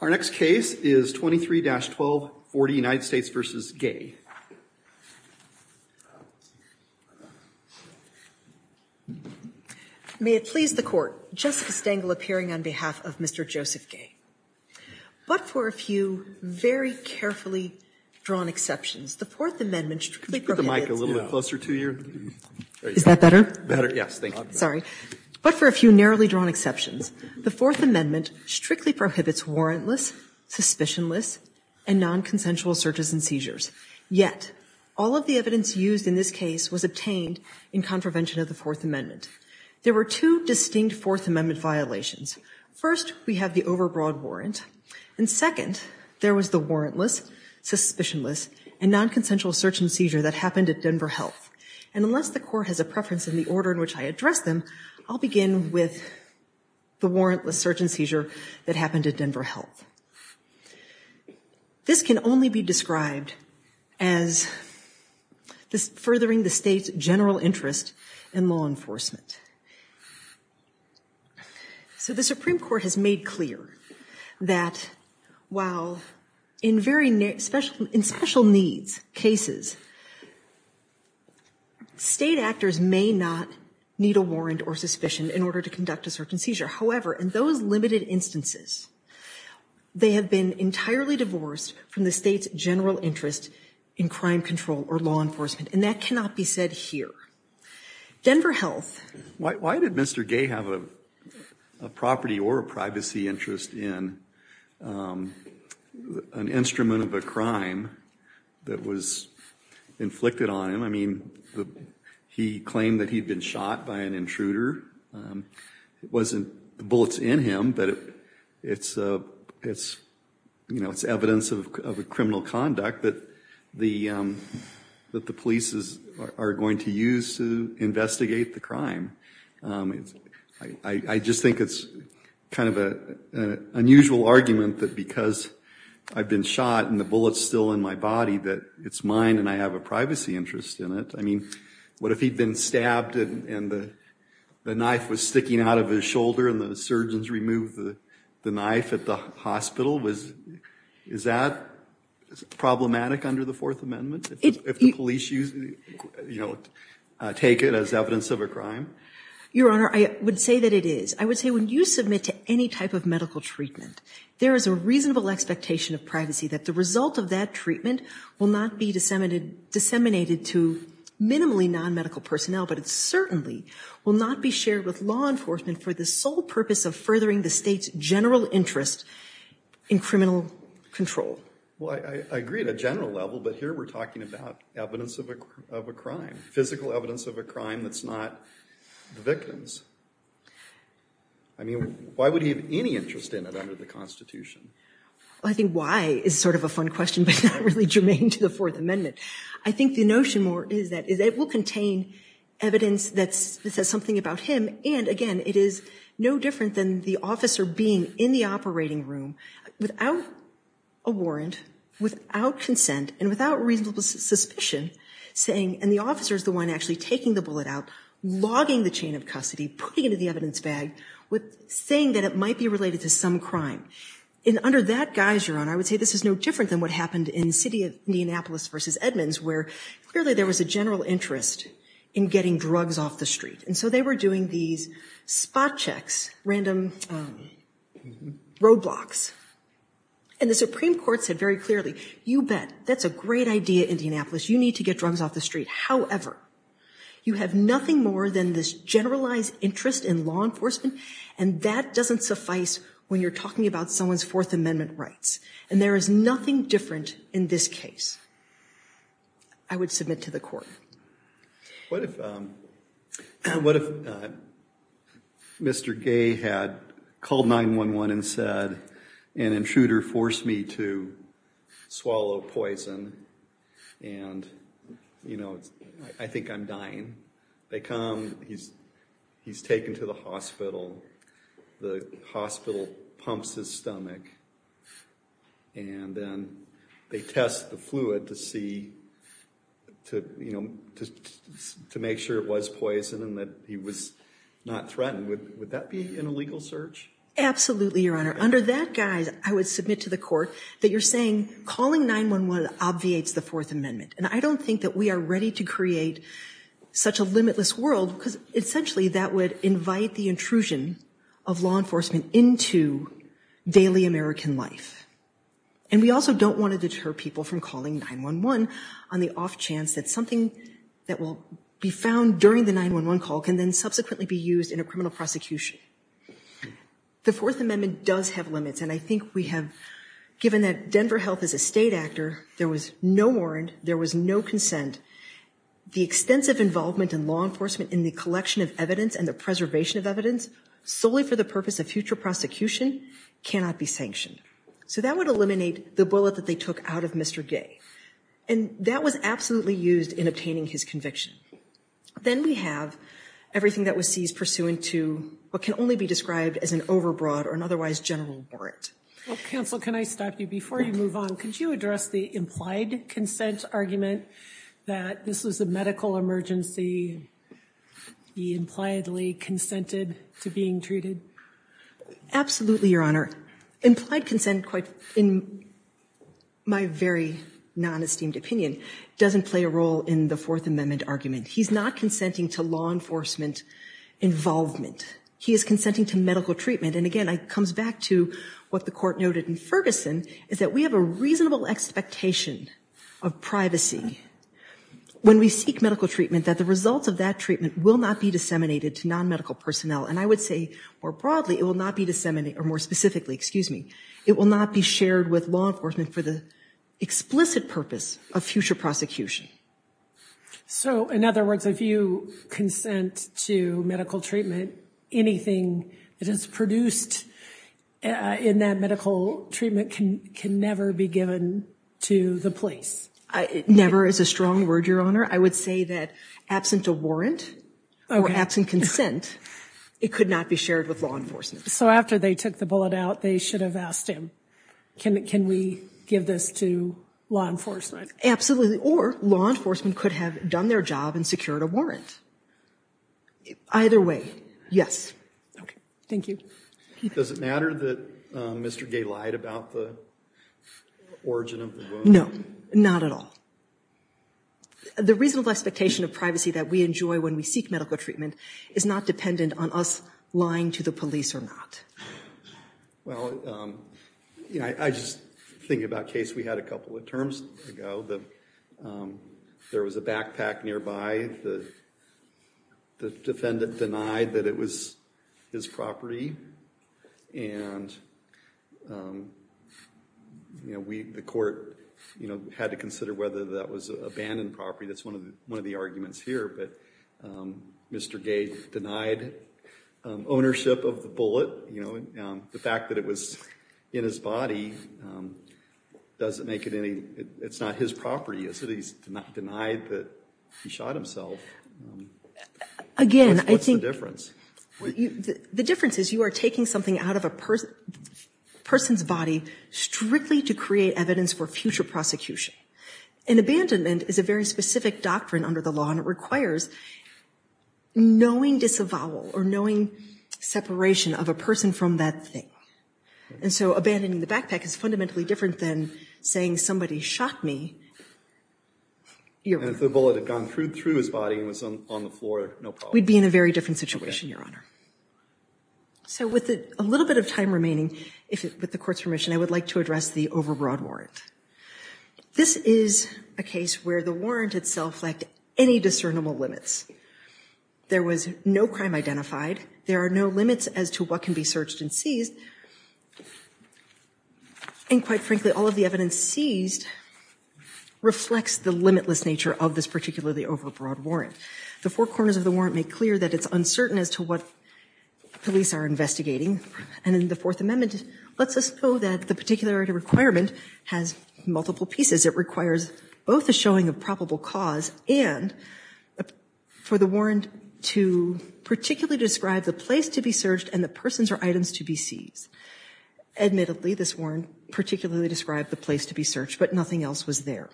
Our next case is 23-12, 40, United States v. Gaye. May it please the Court, Jessica Stengel appearing on behalf of Mr. Joseph Gaye. But for a few very carefully drawn exceptions, the Fourth Amendment strictly prohibits Could you put the mic a little bit closer to you? Is that better? Better, yes, thank you. Sorry. But for a few narrowly drawn exceptions, the Fourth Amendment strictly prohibits warrantless, suspicionless, and nonconsensual searches and seizures. Yet, all of the evidence used in this case was obtained in contravention of the Fourth Amendment. There were two distinct Fourth Amendment violations. First, we have the overbroad warrant. And second, there was the warrantless, suspicionless, and nonconsensual search and seizure that happened at Denver Health. And unless the Court has a preference in the order in which I address them, I'll begin with the warrantless search and seizure that happened at Denver Health. This can only be described as furthering the state's general interest in law enforcement. So the Supreme Court has made clear that while in special needs cases, state actors may not need a warrant or suspicion in order to conduct a search and seizure. However, in those limited instances, they have been entirely divorced from the state's general interest in crime control or law enforcement. And that cannot be said here. Denver Health. Why did Mr. Gay have a property or a privacy interest in an instrument of a crime that was inflicted on him? I mean, he claimed that he'd been shot by an intruder. It wasn't the bullets in him, but it's evidence of criminal conduct that the police are going to use to investigate the crime. I just think it's kind of an unusual argument that because I've been shot and the bullet's still in my body, that it's mine and I have a privacy interest in it. I mean, what if he'd been stabbed and the knife was sticking out of his shoulder and the surgeons removed the knife at the hospital? Is that problematic under the Fourth Amendment if the police take it as evidence of a crime? Your Honor, I would say that it is. I would say when you submit to any type of medical treatment, there is a reasonable expectation of privacy that the result of that treatment will not be disseminated to minimally non-medical personnel, but it certainly will not be shared with law enforcement for the sole purpose of furthering the state's general interest in criminal control. Well, I agree at a general level, but here we're talking about evidence of a crime, physical evidence of a crime that's not the victim's. I mean, why would he have any interest in it under the Constitution? I think why is sort of a fun question, but not really germane to the Fourth Amendment. I think the notion more is that it will contain evidence that says something about him. And again, it is no different than the officer being in the operating room without a warrant, without consent, and without reasonable suspicion saying, and the officer is the one actually taking the bullet out, logging the chain of custody, putting it in the evidence bag, saying that it might be related to some crime. And under that guise, Your Honor, I would say this is no different than what happened in the city of Indianapolis v. Edmonds where clearly there was a general interest in getting drugs off the street. And so they were doing these spot checks, random roadblocks. And the Supreme Court said very clearly, you bet. That's a great idea, Indianapolis. You need to get drugs off the street. However, you have nothing more than this generalized interest in law enforcement, and that doesn't suffice when you're talking about someone's Fourth Amendment rights. And there is nothing different in this case, I would submit to the Court. What if Mr. Gay had called 911 and said, an intruder forced me to swallow poison, and I think I'm dying. They come. He's taken to the hospital. The hospital pumps his stomach. And then they test the fluid to make sure it was poison and that he was not threatened. Would that be an illegal search? Absolutely, Your Honor. Under that guise, I would submit to the Court that you're saying calling 911 obviates the Fourth Amendment. And I don't think that we are ready to create such a limitless world, because essentially, that would invite the intrusion of law enforcement into daily American life. And we also don't want to deter people from calling 911 on the off chance that something that will be found during the 911 call can then subsequently be used in a criminal prosecution. The Fourth Amendment does have limits, and I think we have, given that Denver Health is a state actor, there was no warrant, there was no consent. The extensive involvement in law enforcement in the collection of evidence and the preservation of evidence solely for the purpose of future prosecution cannot be sanctioned. So that would eliminate the bullet that they took out of Mr. Gay. And that was absolutely used in obtaining his conviction. Then we have everything that was seized pursuant to what can only be described as an overbroad or an otherwise general warrant. Well, counsel, can I stop you before you move on? Counsel, could you address the implied consent argument that this was a medical emergency, he impliedly consented to being treated? Absolutely, Your Honor. Implied consent, in my very non-esteemed opinion, doesn't play a role in the Fourth Amendment argument. He's not consenting to law enforcement involvement. He is consenting to medical treatment. And again, it comes back to what the Court noted in Ferguson, is that we have a reasonable expectation of privacy when we seek medical treatment, that the results of that treatment will not be disseminated to non-medical personnel. And I would say, more broadly, it will not be disseminated, or more specifically, excuse me, it will not be shared with law enforcement for the explicit purpose of future prosecution. So, in other words, if you consent to medical treatment, anything that is produced in that medical treatment can never be given to the police? Never is a strong word, Your Honor. I would say that absent a warrant, or absent consent, it could not be shared with law enforcement. So after they took the bullet out, they should have asked him, can we give this to law enforcement? Absolutely, or law enforcement could have done their job and secured a warrant. Either way, yes. Okay, thank you. Does it matter that Mr. Gay lied about the origin of the wound? No, not at all. The reasonable expectation of privacy that we enjoy when we seek medical treatment is not dependent on us lying to the police or not. Well, you know, I just think about a case we had a couple of terms ago that there was a backpack nearby, the defendant denied that it was his property, and, you know, we, the court, you know, had to consider whether that was abandoned property, that's one of the arguments here, but Mr. Gay denied ownership of the bullet, you know, the fact that it was in his body doesn't make it any, it's not his property, is it? He's denied that he shot himself. Again, I think... The difference is you are taking something out of a person's body strictly to create evidence for future prosecution. An abandonment is a very specific doctrine under the law, and it requires knowing disavowal or knowing separation of a person from that thing. And so abandoning the backpack is fundamentally different than saying somebody shot me. And if the bullet had gone through his body and was on the floor, no problem. We'd be in a very different situation, Your Honor. So with a little bit of time remaining, with the Court's permission, I would like to address the overbroad warrant. This is a case where the warrant itself lacked any discernible limits. There was no crime identified. There are no limits as to what can be searched and seized. And quite frankly, all of the evidence seized reflects the limitless nature of this particularly overbroad warrant. The four corners of the warrant make clear that it's uncertain as to what police are investigating. And in the Fourth Amendment, it lets us know that the particularity requirement has multiple pieces. It requires both a showing of probable cause and for the warrant to particularly describe the place to be searched and the persons or items to be seized. Admittedly, this warrant particularly described the place to be searched, but nothing else was there.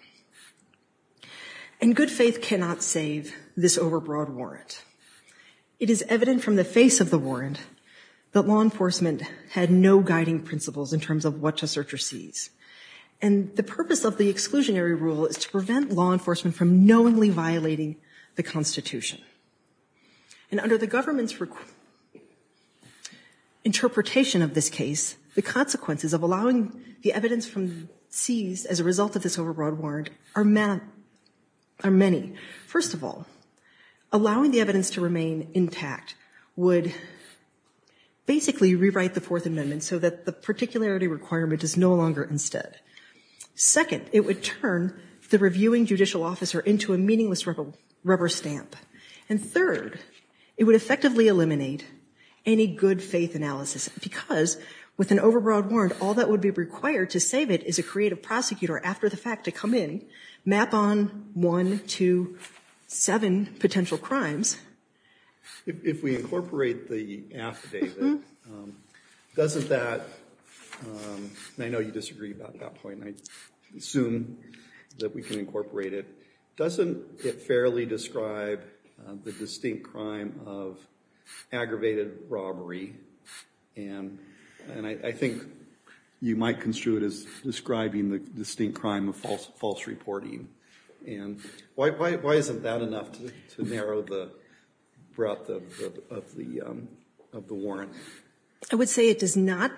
And good faith cannot save this overbroad warrant. It is evident from the face of the warrant that law enforcement had no guiding principles in terms of what to search or seize. And the purpose of the exclusionary rule is to prevent law enforcement from knowingly violating the Constitution. And under the government's interpretation of this case, the consequences of allowing the evidence seized as a result of this overbroad warrant are many. First of all, allowing the evidence to remain intact would basically rewrite the Fourth Amendment so that the particularity requirement is no longer instead. Second, it would turn the reviewing judicial officer into a meaningless rubber stamp. And third, it would effectively eliminate any good faith analysis because with an overbroad warrant, all that would be required to save it is a creative prosecutor after the fact to come in, map on one to seven potential crimes. If we incorporate the affidavit, doesn't that, and I know you disagree about that point, I assume that we can incorporate it, doesn't it fairly describe the distinct crime of aggravated robbery? And I think you might construe it as describing the distinct crime of false reporting. And why isn't that enough to narrow the breadth of the warrant? I would say it does not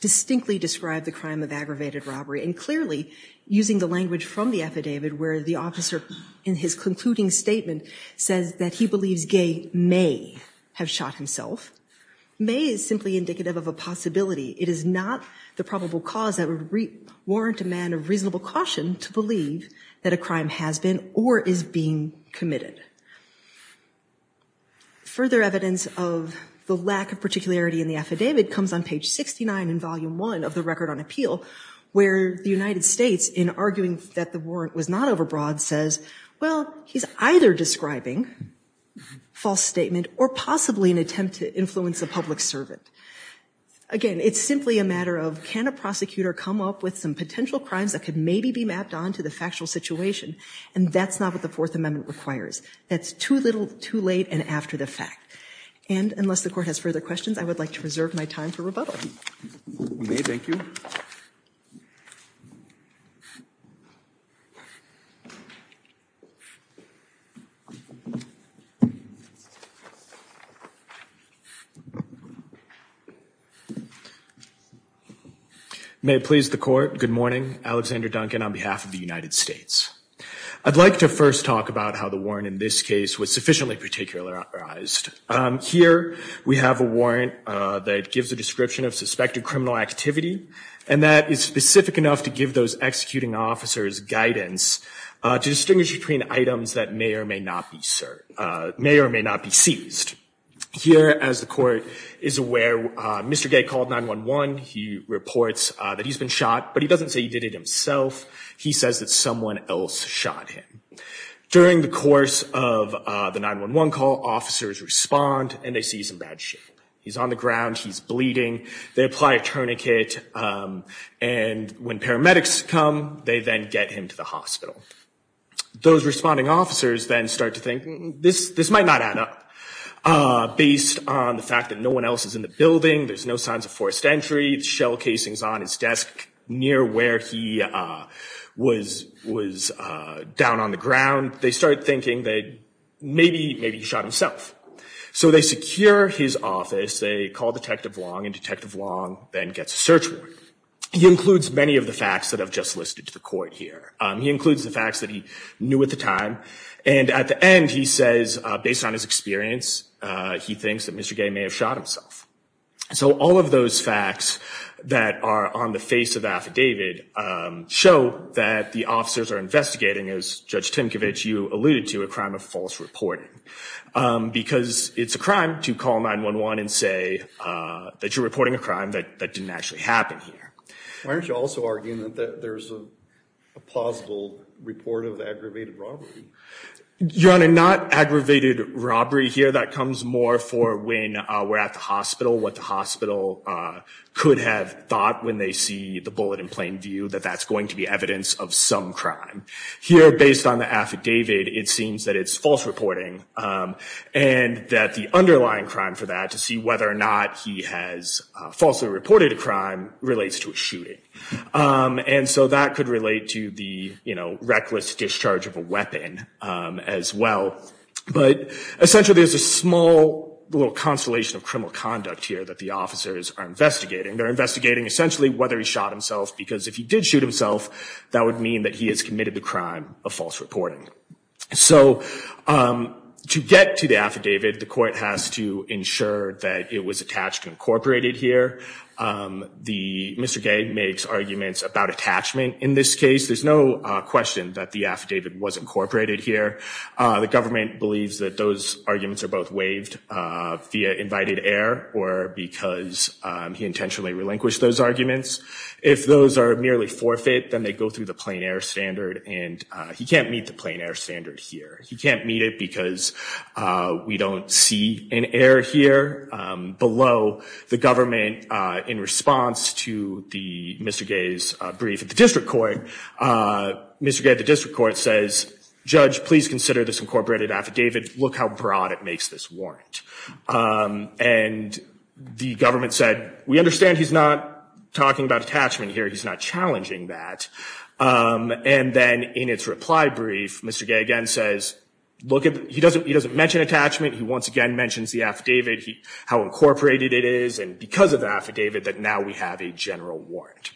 distinctly describe the crime of aggravated robbery. And clearly using the language from the affidavit where the officer in his concluding statement says that he believes Gay may have shot himself. May is simply indicative of a possibility. It is not the probable cause that would warrant a man of reasonable caution to believe that a crime has been or is being committed. Further evidence of the lack of particularity in the affidavit comes on page 69 in volume one of the record on appeal where the United States in arguing that the warrant was not overbroad says, well, he's either describing false statement or possibly an attempt to influence a public servant. Again, it's simply a matter of can a prosecutor come up with some potential crimes that could maybe be mapped on to the factual situation? And that's not what the Fourth Amendment requires. That's too little, too late and after the fact. And unless the court has further questions, I would like to reserve my time for May, thank you. May it please the court. Good morning, Alexander Duncan on behalf of the United States. I'd like to first talk about how the warrant in this case was sufficiently particularized. Here we have a warrant that gives a description of suspected criminal activity and that is specific enough to give those executing officers guidance to distinguish between items that may or may not be searched, may or may not be seized. Here, as the court is aware, Mr. Gay called 9-1-1. He reports that he's been shot, but he doesn't say he did it himself. He says that someone else shot him. During the course of the 9-1-1 call, officers respond and they see some bad shape. He's on the ground. He's bleeding. They apply a tourniquet and when paramedics come, they then get him to the hospital. Those responding officers then start to think this might not add up. Based on the fact that no one else is in the building, there's no signs of forced entry, shell casings on his desk near where he was down on the ground. They start thinking that maybe he shot himself. So they secure his office. They call Detective Long and Detective Long then gets a search warrant. He includes many of the facts that I've just listed to the court here. He includes the facts that he knew at the time. And at the end, he says, based on his experience, he thinks that Mr. Gay may have shot himself. So all of those facts that are on the face of the affidavit show that the officers are investigating, as Judge Tinkovich, you alluded to, a crime of false reporting. Because it's a crime to call 911 and say that you're reporting a crime that didn't actually happen here. Why aren't you also arguing that there's a plausible report of aggravated robbery? Your Honor, not aggravated robbery here. That comes more for when we're at the hospital, what the hospital could have thought when they see the bullet in plain view, that that's going to be evidence of some crime. Here, based on the affidavit, it seems that it's false reporting and that the underlying crime for that to see whether or not he has falsely reported a crime relates to a shooting. And so that could relate to the, you know, reckless discharge of a weapon as well. But essentially, there's a small little constellation of criminal conduct here that the officers are investigating. They're investigating essentially whether he shot himself, because if he did shoot himself, that would mean that he has committed the crime of false reporting. So to get to the affidavit, the court has to ensure that it was attached and incorporated here. Mr. Gay makes arguments about attachment in this case. There's no question that the affidavit was incorporated here. The government believes that those arguments are both waived via invited air or because he intentionally relinquished those arguments. If those are merely forfeit, then they go through the plain air standard. And he can't meet the plain air standard here. He can't meet it because we don't see an air here below the government in response to the Mr. Gay's brief at the district court. Mr. Gay at the district court says, judge, please consider this incorporated affidavit. Look how broad it makes this warrant. And the government said, we understand he's not talking about attachment here. He's not challenging that. And then in its reply brief, Mr. Gay again says, look, he doesn't mention attachment. He once again mentions the affidavit, how incorporated it is, and because of the affidavit that now we have a general warrant.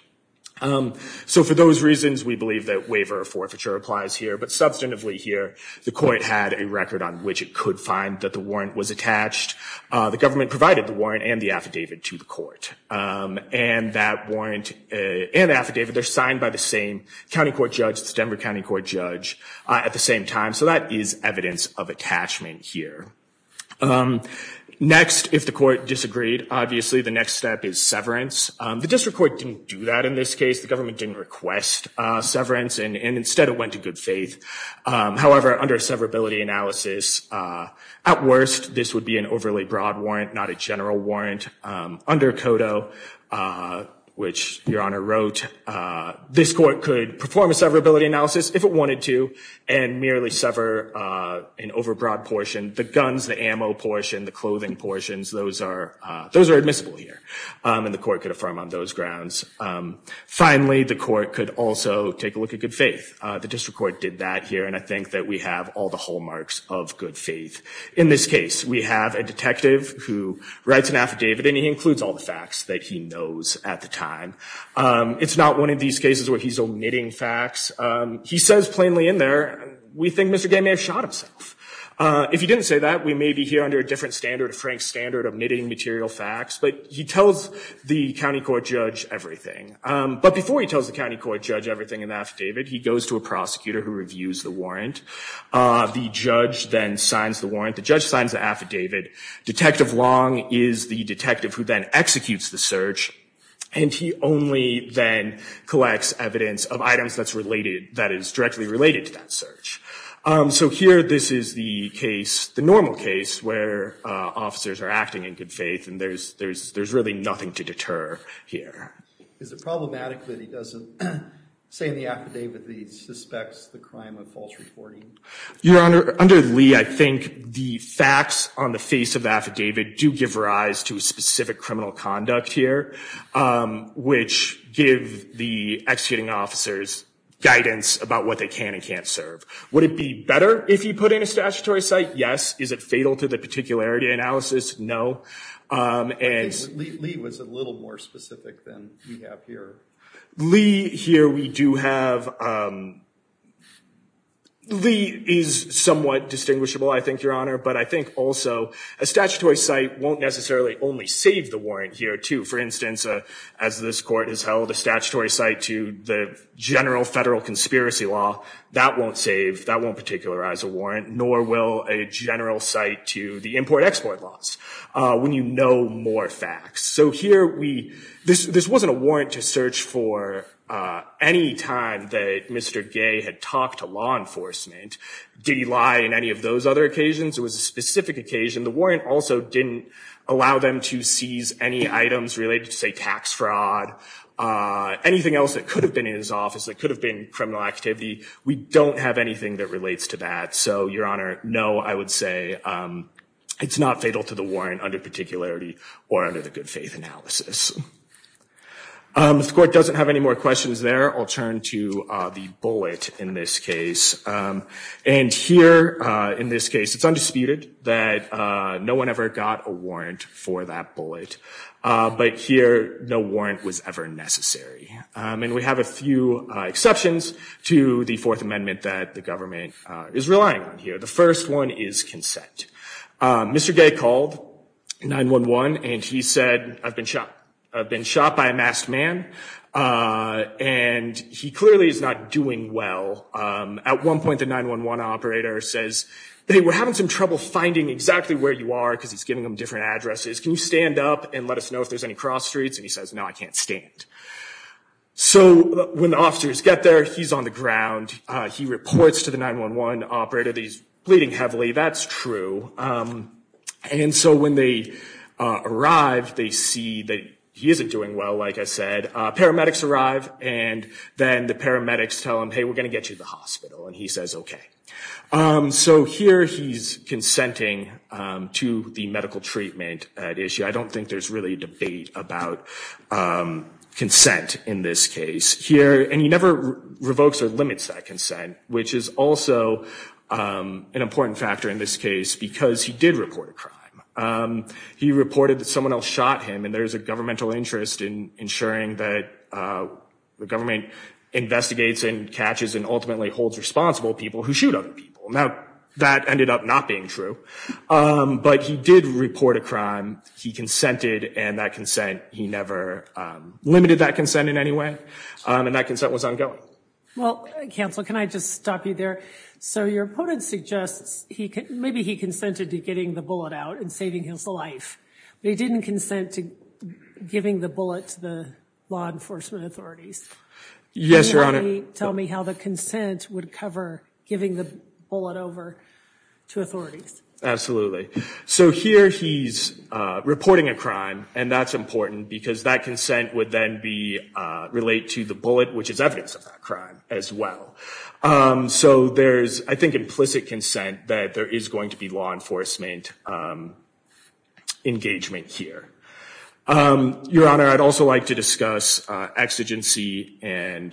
So for those reasons, we believe that waiver of forfeiture applies here. But substantively here, the court had a record on which it could find that the warrant was attached. The government provided the warrant and the affidavit to the court. And that warrant and affidavit, they're signed by the same county court judge, the Denver county court judge at the same time. So that is evidence of attachment here. Next, if the court disagreed, obviously the next step is severance. The district court didn't do that in this case. The government didn't request severance. And instead it went to good faith. However, under severability analysis, at worst, this would be an overly broad warrant, not a general warrant. Under CODO, which Your Honor wrote, this court could perform a severability analysis if it wanted to and merely sever an overbroad portion. The guns, the ammo portion, the clothing portions, those are admissible here. And the court could affirm on those grounds. Finally, the court could also take a look at good faith. The district court did that here. And I think that we have all the hallmarks of good faith. In this case, we have a detective who writes an affidavit and he includes all the facts that he knows at the time. It's not one of these cases where he's omitting facts. He says plainly in there, we think Mr. Gay may have shot himself. If he didn't say that, we may be here under a different standard, a Frank standard of omitting material facts. But he tells the county court judge everything. But before he tells the county court judge everything in the affidavit, he goes to a prosecutor who reviews the warrant. The judge then signs the warrant. The judge signs the affidavit. Detective Long is the detective who then executes the search. And he only then collects evidence of items that's related, that is directly related to that search. So here, this is the case, the normal case where officers are acting in good faith and there's really nothing to deter here. Is it problematic that he doesn't say in the affidavit that he suspects the crime of false reporting? Your Honor, under Lee, I think the facts on the face of the affidavit do give rise to specific criminal conduct here, which give the executing officers guidance about what they can and can't serve. Would it be better if he put in a statutory site? Yes. Is it fatal to the particularity analysis? No. I think Lee was a little more specific than we have here. Lee, here we do have, Lee is somewhat distinguishable, I think, Your Honor. But I think also a statutory site won't necessarily only save the warrant here, too. For instance, as this court has held a statutory site to the general federal conspiracy law, that won't save, that won't particularize a warrant, nor will a general site to the import-export laws when you know more facts. So here, this wasn't a warrant to search for any time that Mr. Gay had talked to law enforcement. Did he lie in any of those other occasions? It was a specific occasion. The warrant also didn't allow them to seize any items related to, say, tax fraud, anything else that could have been in his office that could have been criminal activity. We don't have anything that relates to that. So, Your Honor, no, I would say it's not fatal to the warrant under particularity or under the good faith analysis. If the court doesn't have any more questions there, I'll turn to the bullet in this case. And here, in this case, it's undisputed that no one ever got a warrant for that bullet. But here, no warrant was ever necessary. And we have a few exceptions to the Fourth Amendment that the government is relying on here. The first one is consent. Mr. Gay called 9-1-1 and he said, I've been shot. I've been shot by a masked man. And he clearly is not doing well. At one point, the 9-1-1 operator says, hey, we're having some trouble finding exactly where you are because he's giving them different addresses. Can you stand up and let us know if there's any cross streets? And he says, no, I can't stand. So when the officers get there, he's on the ground. He reports to the 9-1-1 operator that he's bleeding heavily. That's true. And so when they arrive, they see that he isn't doing well. Like I said, paramedics arrive and then the paramedics tell him, hey, we're going to get you to the hospital. And he says, OK. So here he's consenting to the medical treatment at issue. I don't think there's really a debate about consent in this case here. And he never revokes or limits that consent, which is also an important factor in this case because he did report a crime. He reported that someone else shot him and there's a governmental interest in ensuring that the government investigates and catches and ultimately holds responsible people who shoot other people. Now, that ended up not being true. But he did report a crime. He consented. And that consent, he never limited that consent in any way. And that consent was ongoing. Well, counsel, can I just stop you there? So your opponent suggests maybe he consented to getting the bullet out and saving his life, but he didn't consent to giving the bullet to the law enforcement authorities. Yes, Your Honor. Tell me how the consent would cover giving the bullet over to authorities. Absolutely. So here he's reporting a crime and that's important because that consent would then be related to the bullet, which is evidence of that crime as well. So there's, I think, implicit consent that there is going to be law enforcement engagement here. Your Honor, I'd also like to discuss exigency and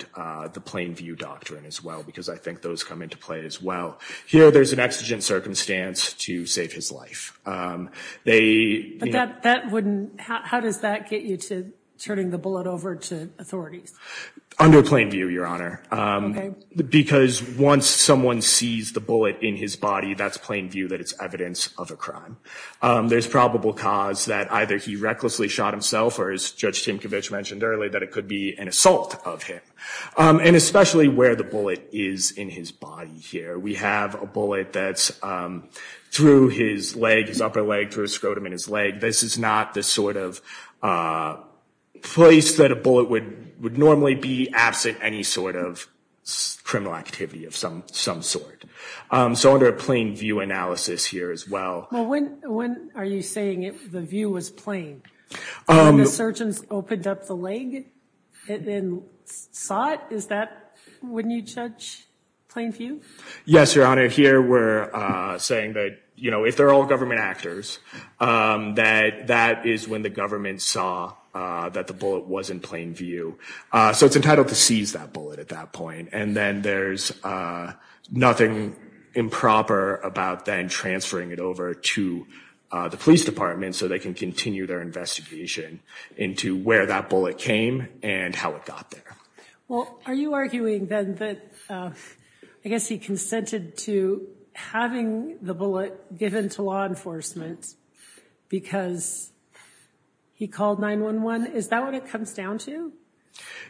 the plain view doctrine as well because I think those come into play as well. Here, there's an exigent circumstance to save his life. How does that get you to turning the bullet over to authorities? Under plain view, Your Honor, because once someone sees the bullet in his body, that's plain view that it's evidence of a crime. There's probable cause that either he recklessly shot himself or, as Judge Tinkovich mentioned earlier, that it could be an assault of him and especially where the bullet is in his body here. We have a bullet that's through his leg, his upper leg, through a scrotum in his leg. This is not the sort of place that a bullet would normally be absent any sort of criminal activity of some sort. So under a plain view analysis here as well. Well, when are you saying the view was plain? When the surgeon opened up the leg and then saw it? Is that, wouldn't you judge, plain view? Yes, Your Honor, here we're saying that, you know, if they're all government actors that that is when the government saw that the bullet was in plain view. So it's entitled to seize that bullet at that point. And then there's nothing improper about then transferring it over to the police department so they can continue their investigation into where that bullet came and how it got there. Well, are you arguing then that I guess he consented to having the bullet given to law enforcement because he called 911? Is that what it comes down to?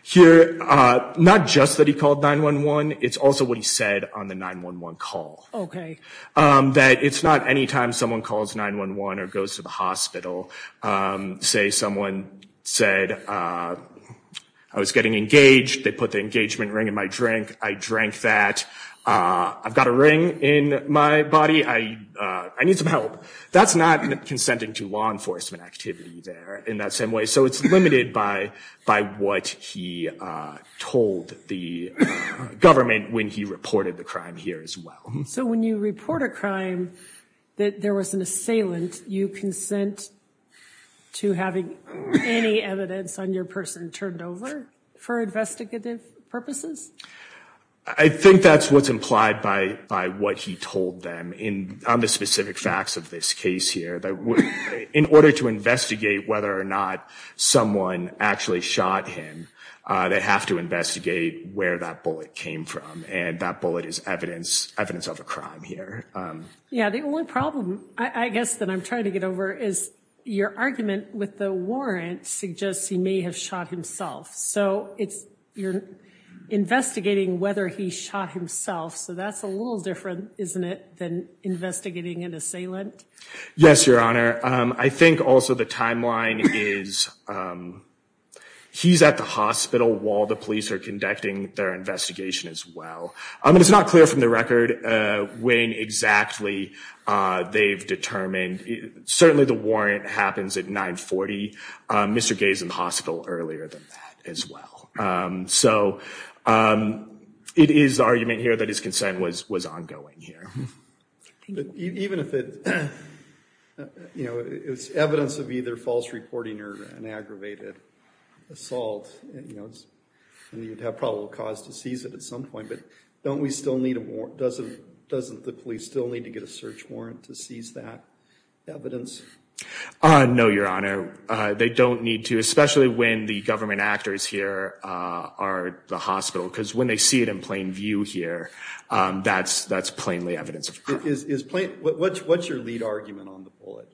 Here, not just that he called 911. It's also what he said on the 911 call. Okay. That it's not anytime someone calls 911 or goes to the hospital. Say someone said I was getting engaged. They put the engagement ring in my drink. I drank that. I've got a ring in my body. I need some help. That's not consenting to law enforcement activity there in that same way. So it's limited by what he told the government when he reported the crime here as well. So when you report a crime that there was an assailant, you consent to having any evidence on your person turned over for investigative purposes? I think that's what's implied by what he told them on the specific facts of this case here that in order to investigate whether or not someone actually shot him, they have to investigate where that bullet came from. And that bullet is evidence of a crime here. Yeah, the only problem I guess that I'm trying to get over is your argument with the warrant suggests he may have shot himself. So you're investigating whether he shot himself. So that's a little different, isn't it, than investigating an assailant? Yes, Your Honor. I think also the timeline is he's at the hospital while the police are conducting their investigation as well. I mean, it's not clear from the record when exactly they've determined. Certainly the warrant happens at 940. Mr. Gay is in the hospital earlier than that as well. So it is the argument here that his consent was ongoing here. Even if it's evidence of either false reporting or an aggravated assault, you know, cause to seize it at some point. But don't we still need a warrant? Doesn't the police still need to get a search warrant to seize that evidence? No, Your Honor. They don't need to, especially when the government actors here are at the hospital because when they see it in plain view here, that's plainly evidence of crime. What's your lead argument on the bullet?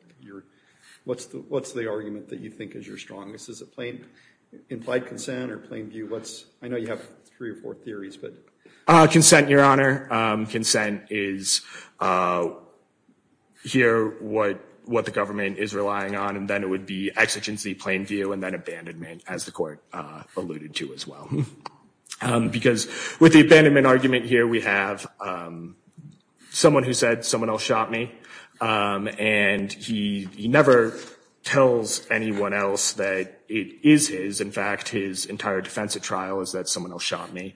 What's the argument that you think is your strongest? Is it plain implied consent or plain view? I know you have three or four theories, but. Consent, Your Honor. Consent is here what the government is relying on. And then it would be exigency, plain view, and then abandonment as the court alluded to as well. Because with the abandonment argument here, we have someone who said someone else shot me. And he never tells anyone else that it is his. In fact, his entire defense at trial is that someone else shot me.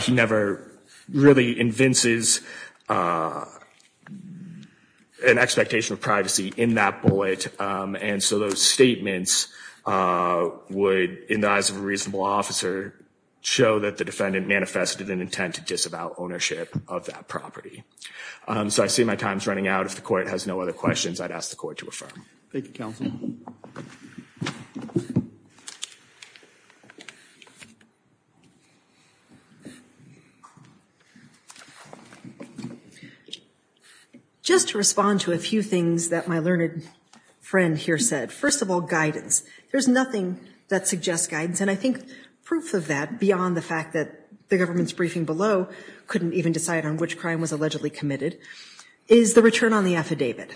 He never really convinces an expectation of privacy in that bullet. And so those statements would, in the eyes of a reasonable officer, show that the defendant manifested an intent to disavow ownership of that property. So I see my time's running out. If the court has no other questions, I'd ask the court to affirm. Thank you, counsel. Just to respond to a few things that my learned friend here said. First of all, guidance. There's nothing that suggests guidance. And I think proof of that, beyond the fact that the government's briefing below couldn't even decide on which crime was allegedly committed, is the return on the affidavit.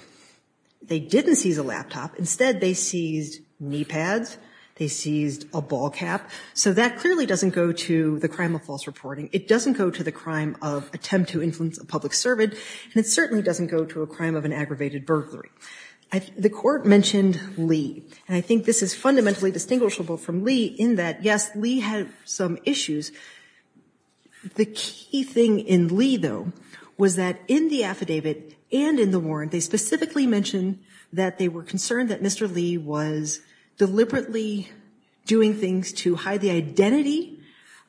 They didn't seize a laptop. Instead, they seized knee pads. They seized a ball cap. So that clearly doesn't go to the crime of false reporting. It doesn't go to the crime of attempt to influence a public servant. And it certainly doesn't go to a crime of an aggravated burglary. The court mentioned Lee. And I think this is fundamentally distinguishable from Lee in that, yes, Lee had some issues. The key thing in Lee, though, was that in the affidavit and in the warrant, they specifically mentioned that they were concerned that Mr. Lee was deliberately doing things to hide the identity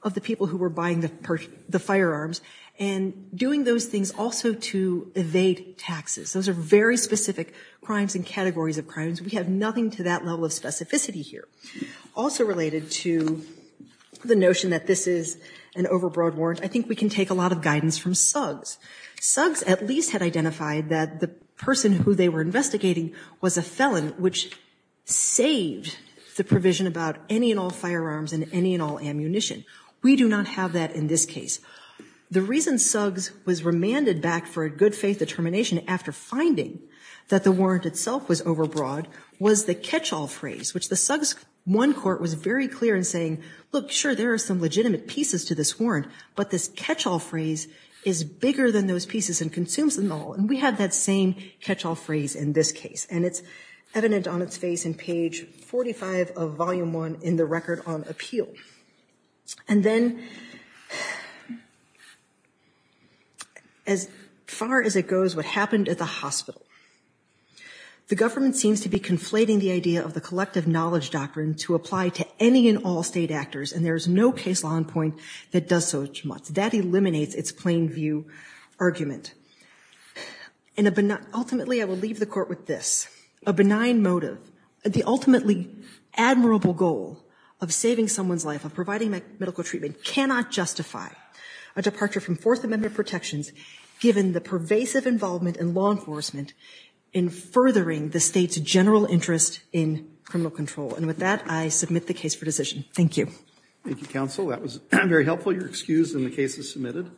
of the people who were buying the firearms and doing those things also to evade taxes. Those are very specific crimes and categories of crimes. We have nothing to that level of specificity here. Also related to the notion that this is an overbroad warrant, I think we can take a lot of guidance from Suggs. Suggs at least had identified that the person who they were investigating was a felon, which saved the provision about any and all firearms and any and all ammunition. We do not have that in this case. The reason Suggs was remanded back for a good faith determination after finding that the warrant itself was overbroad was the catch-all phrase, which the Suggs 1 court was very clear in saying, look, sure, there are some legitimate pieces to this warrant, but this catch-all phrase is bigger than those pieces and consumes them all. And we have that same catch-all phrase in this case. And it's evident on its face in page 45 of Volume 1 in the Record on Appeal. And then, as far as it goes, what happened at the hospital. The government seems to be conflating the idea of the collective knowledge doctrine to apply to any and all state actors. And there is no case law in point that does so much. That eliminates its plain view argument. And ultimately, I will leave the court with this, a benign motive, the ultimately admirable goal of saving someone's life, of providing medical treatment, cannot justify a departure from Fourth Amendment protections, given the pervasive involvement in law enforcement in furthering the state's general interest in criminal control. And with that, I submit the case for decision. Thank you. Thank you, counsel. That was very helpful. You're excused, and the case is submitted.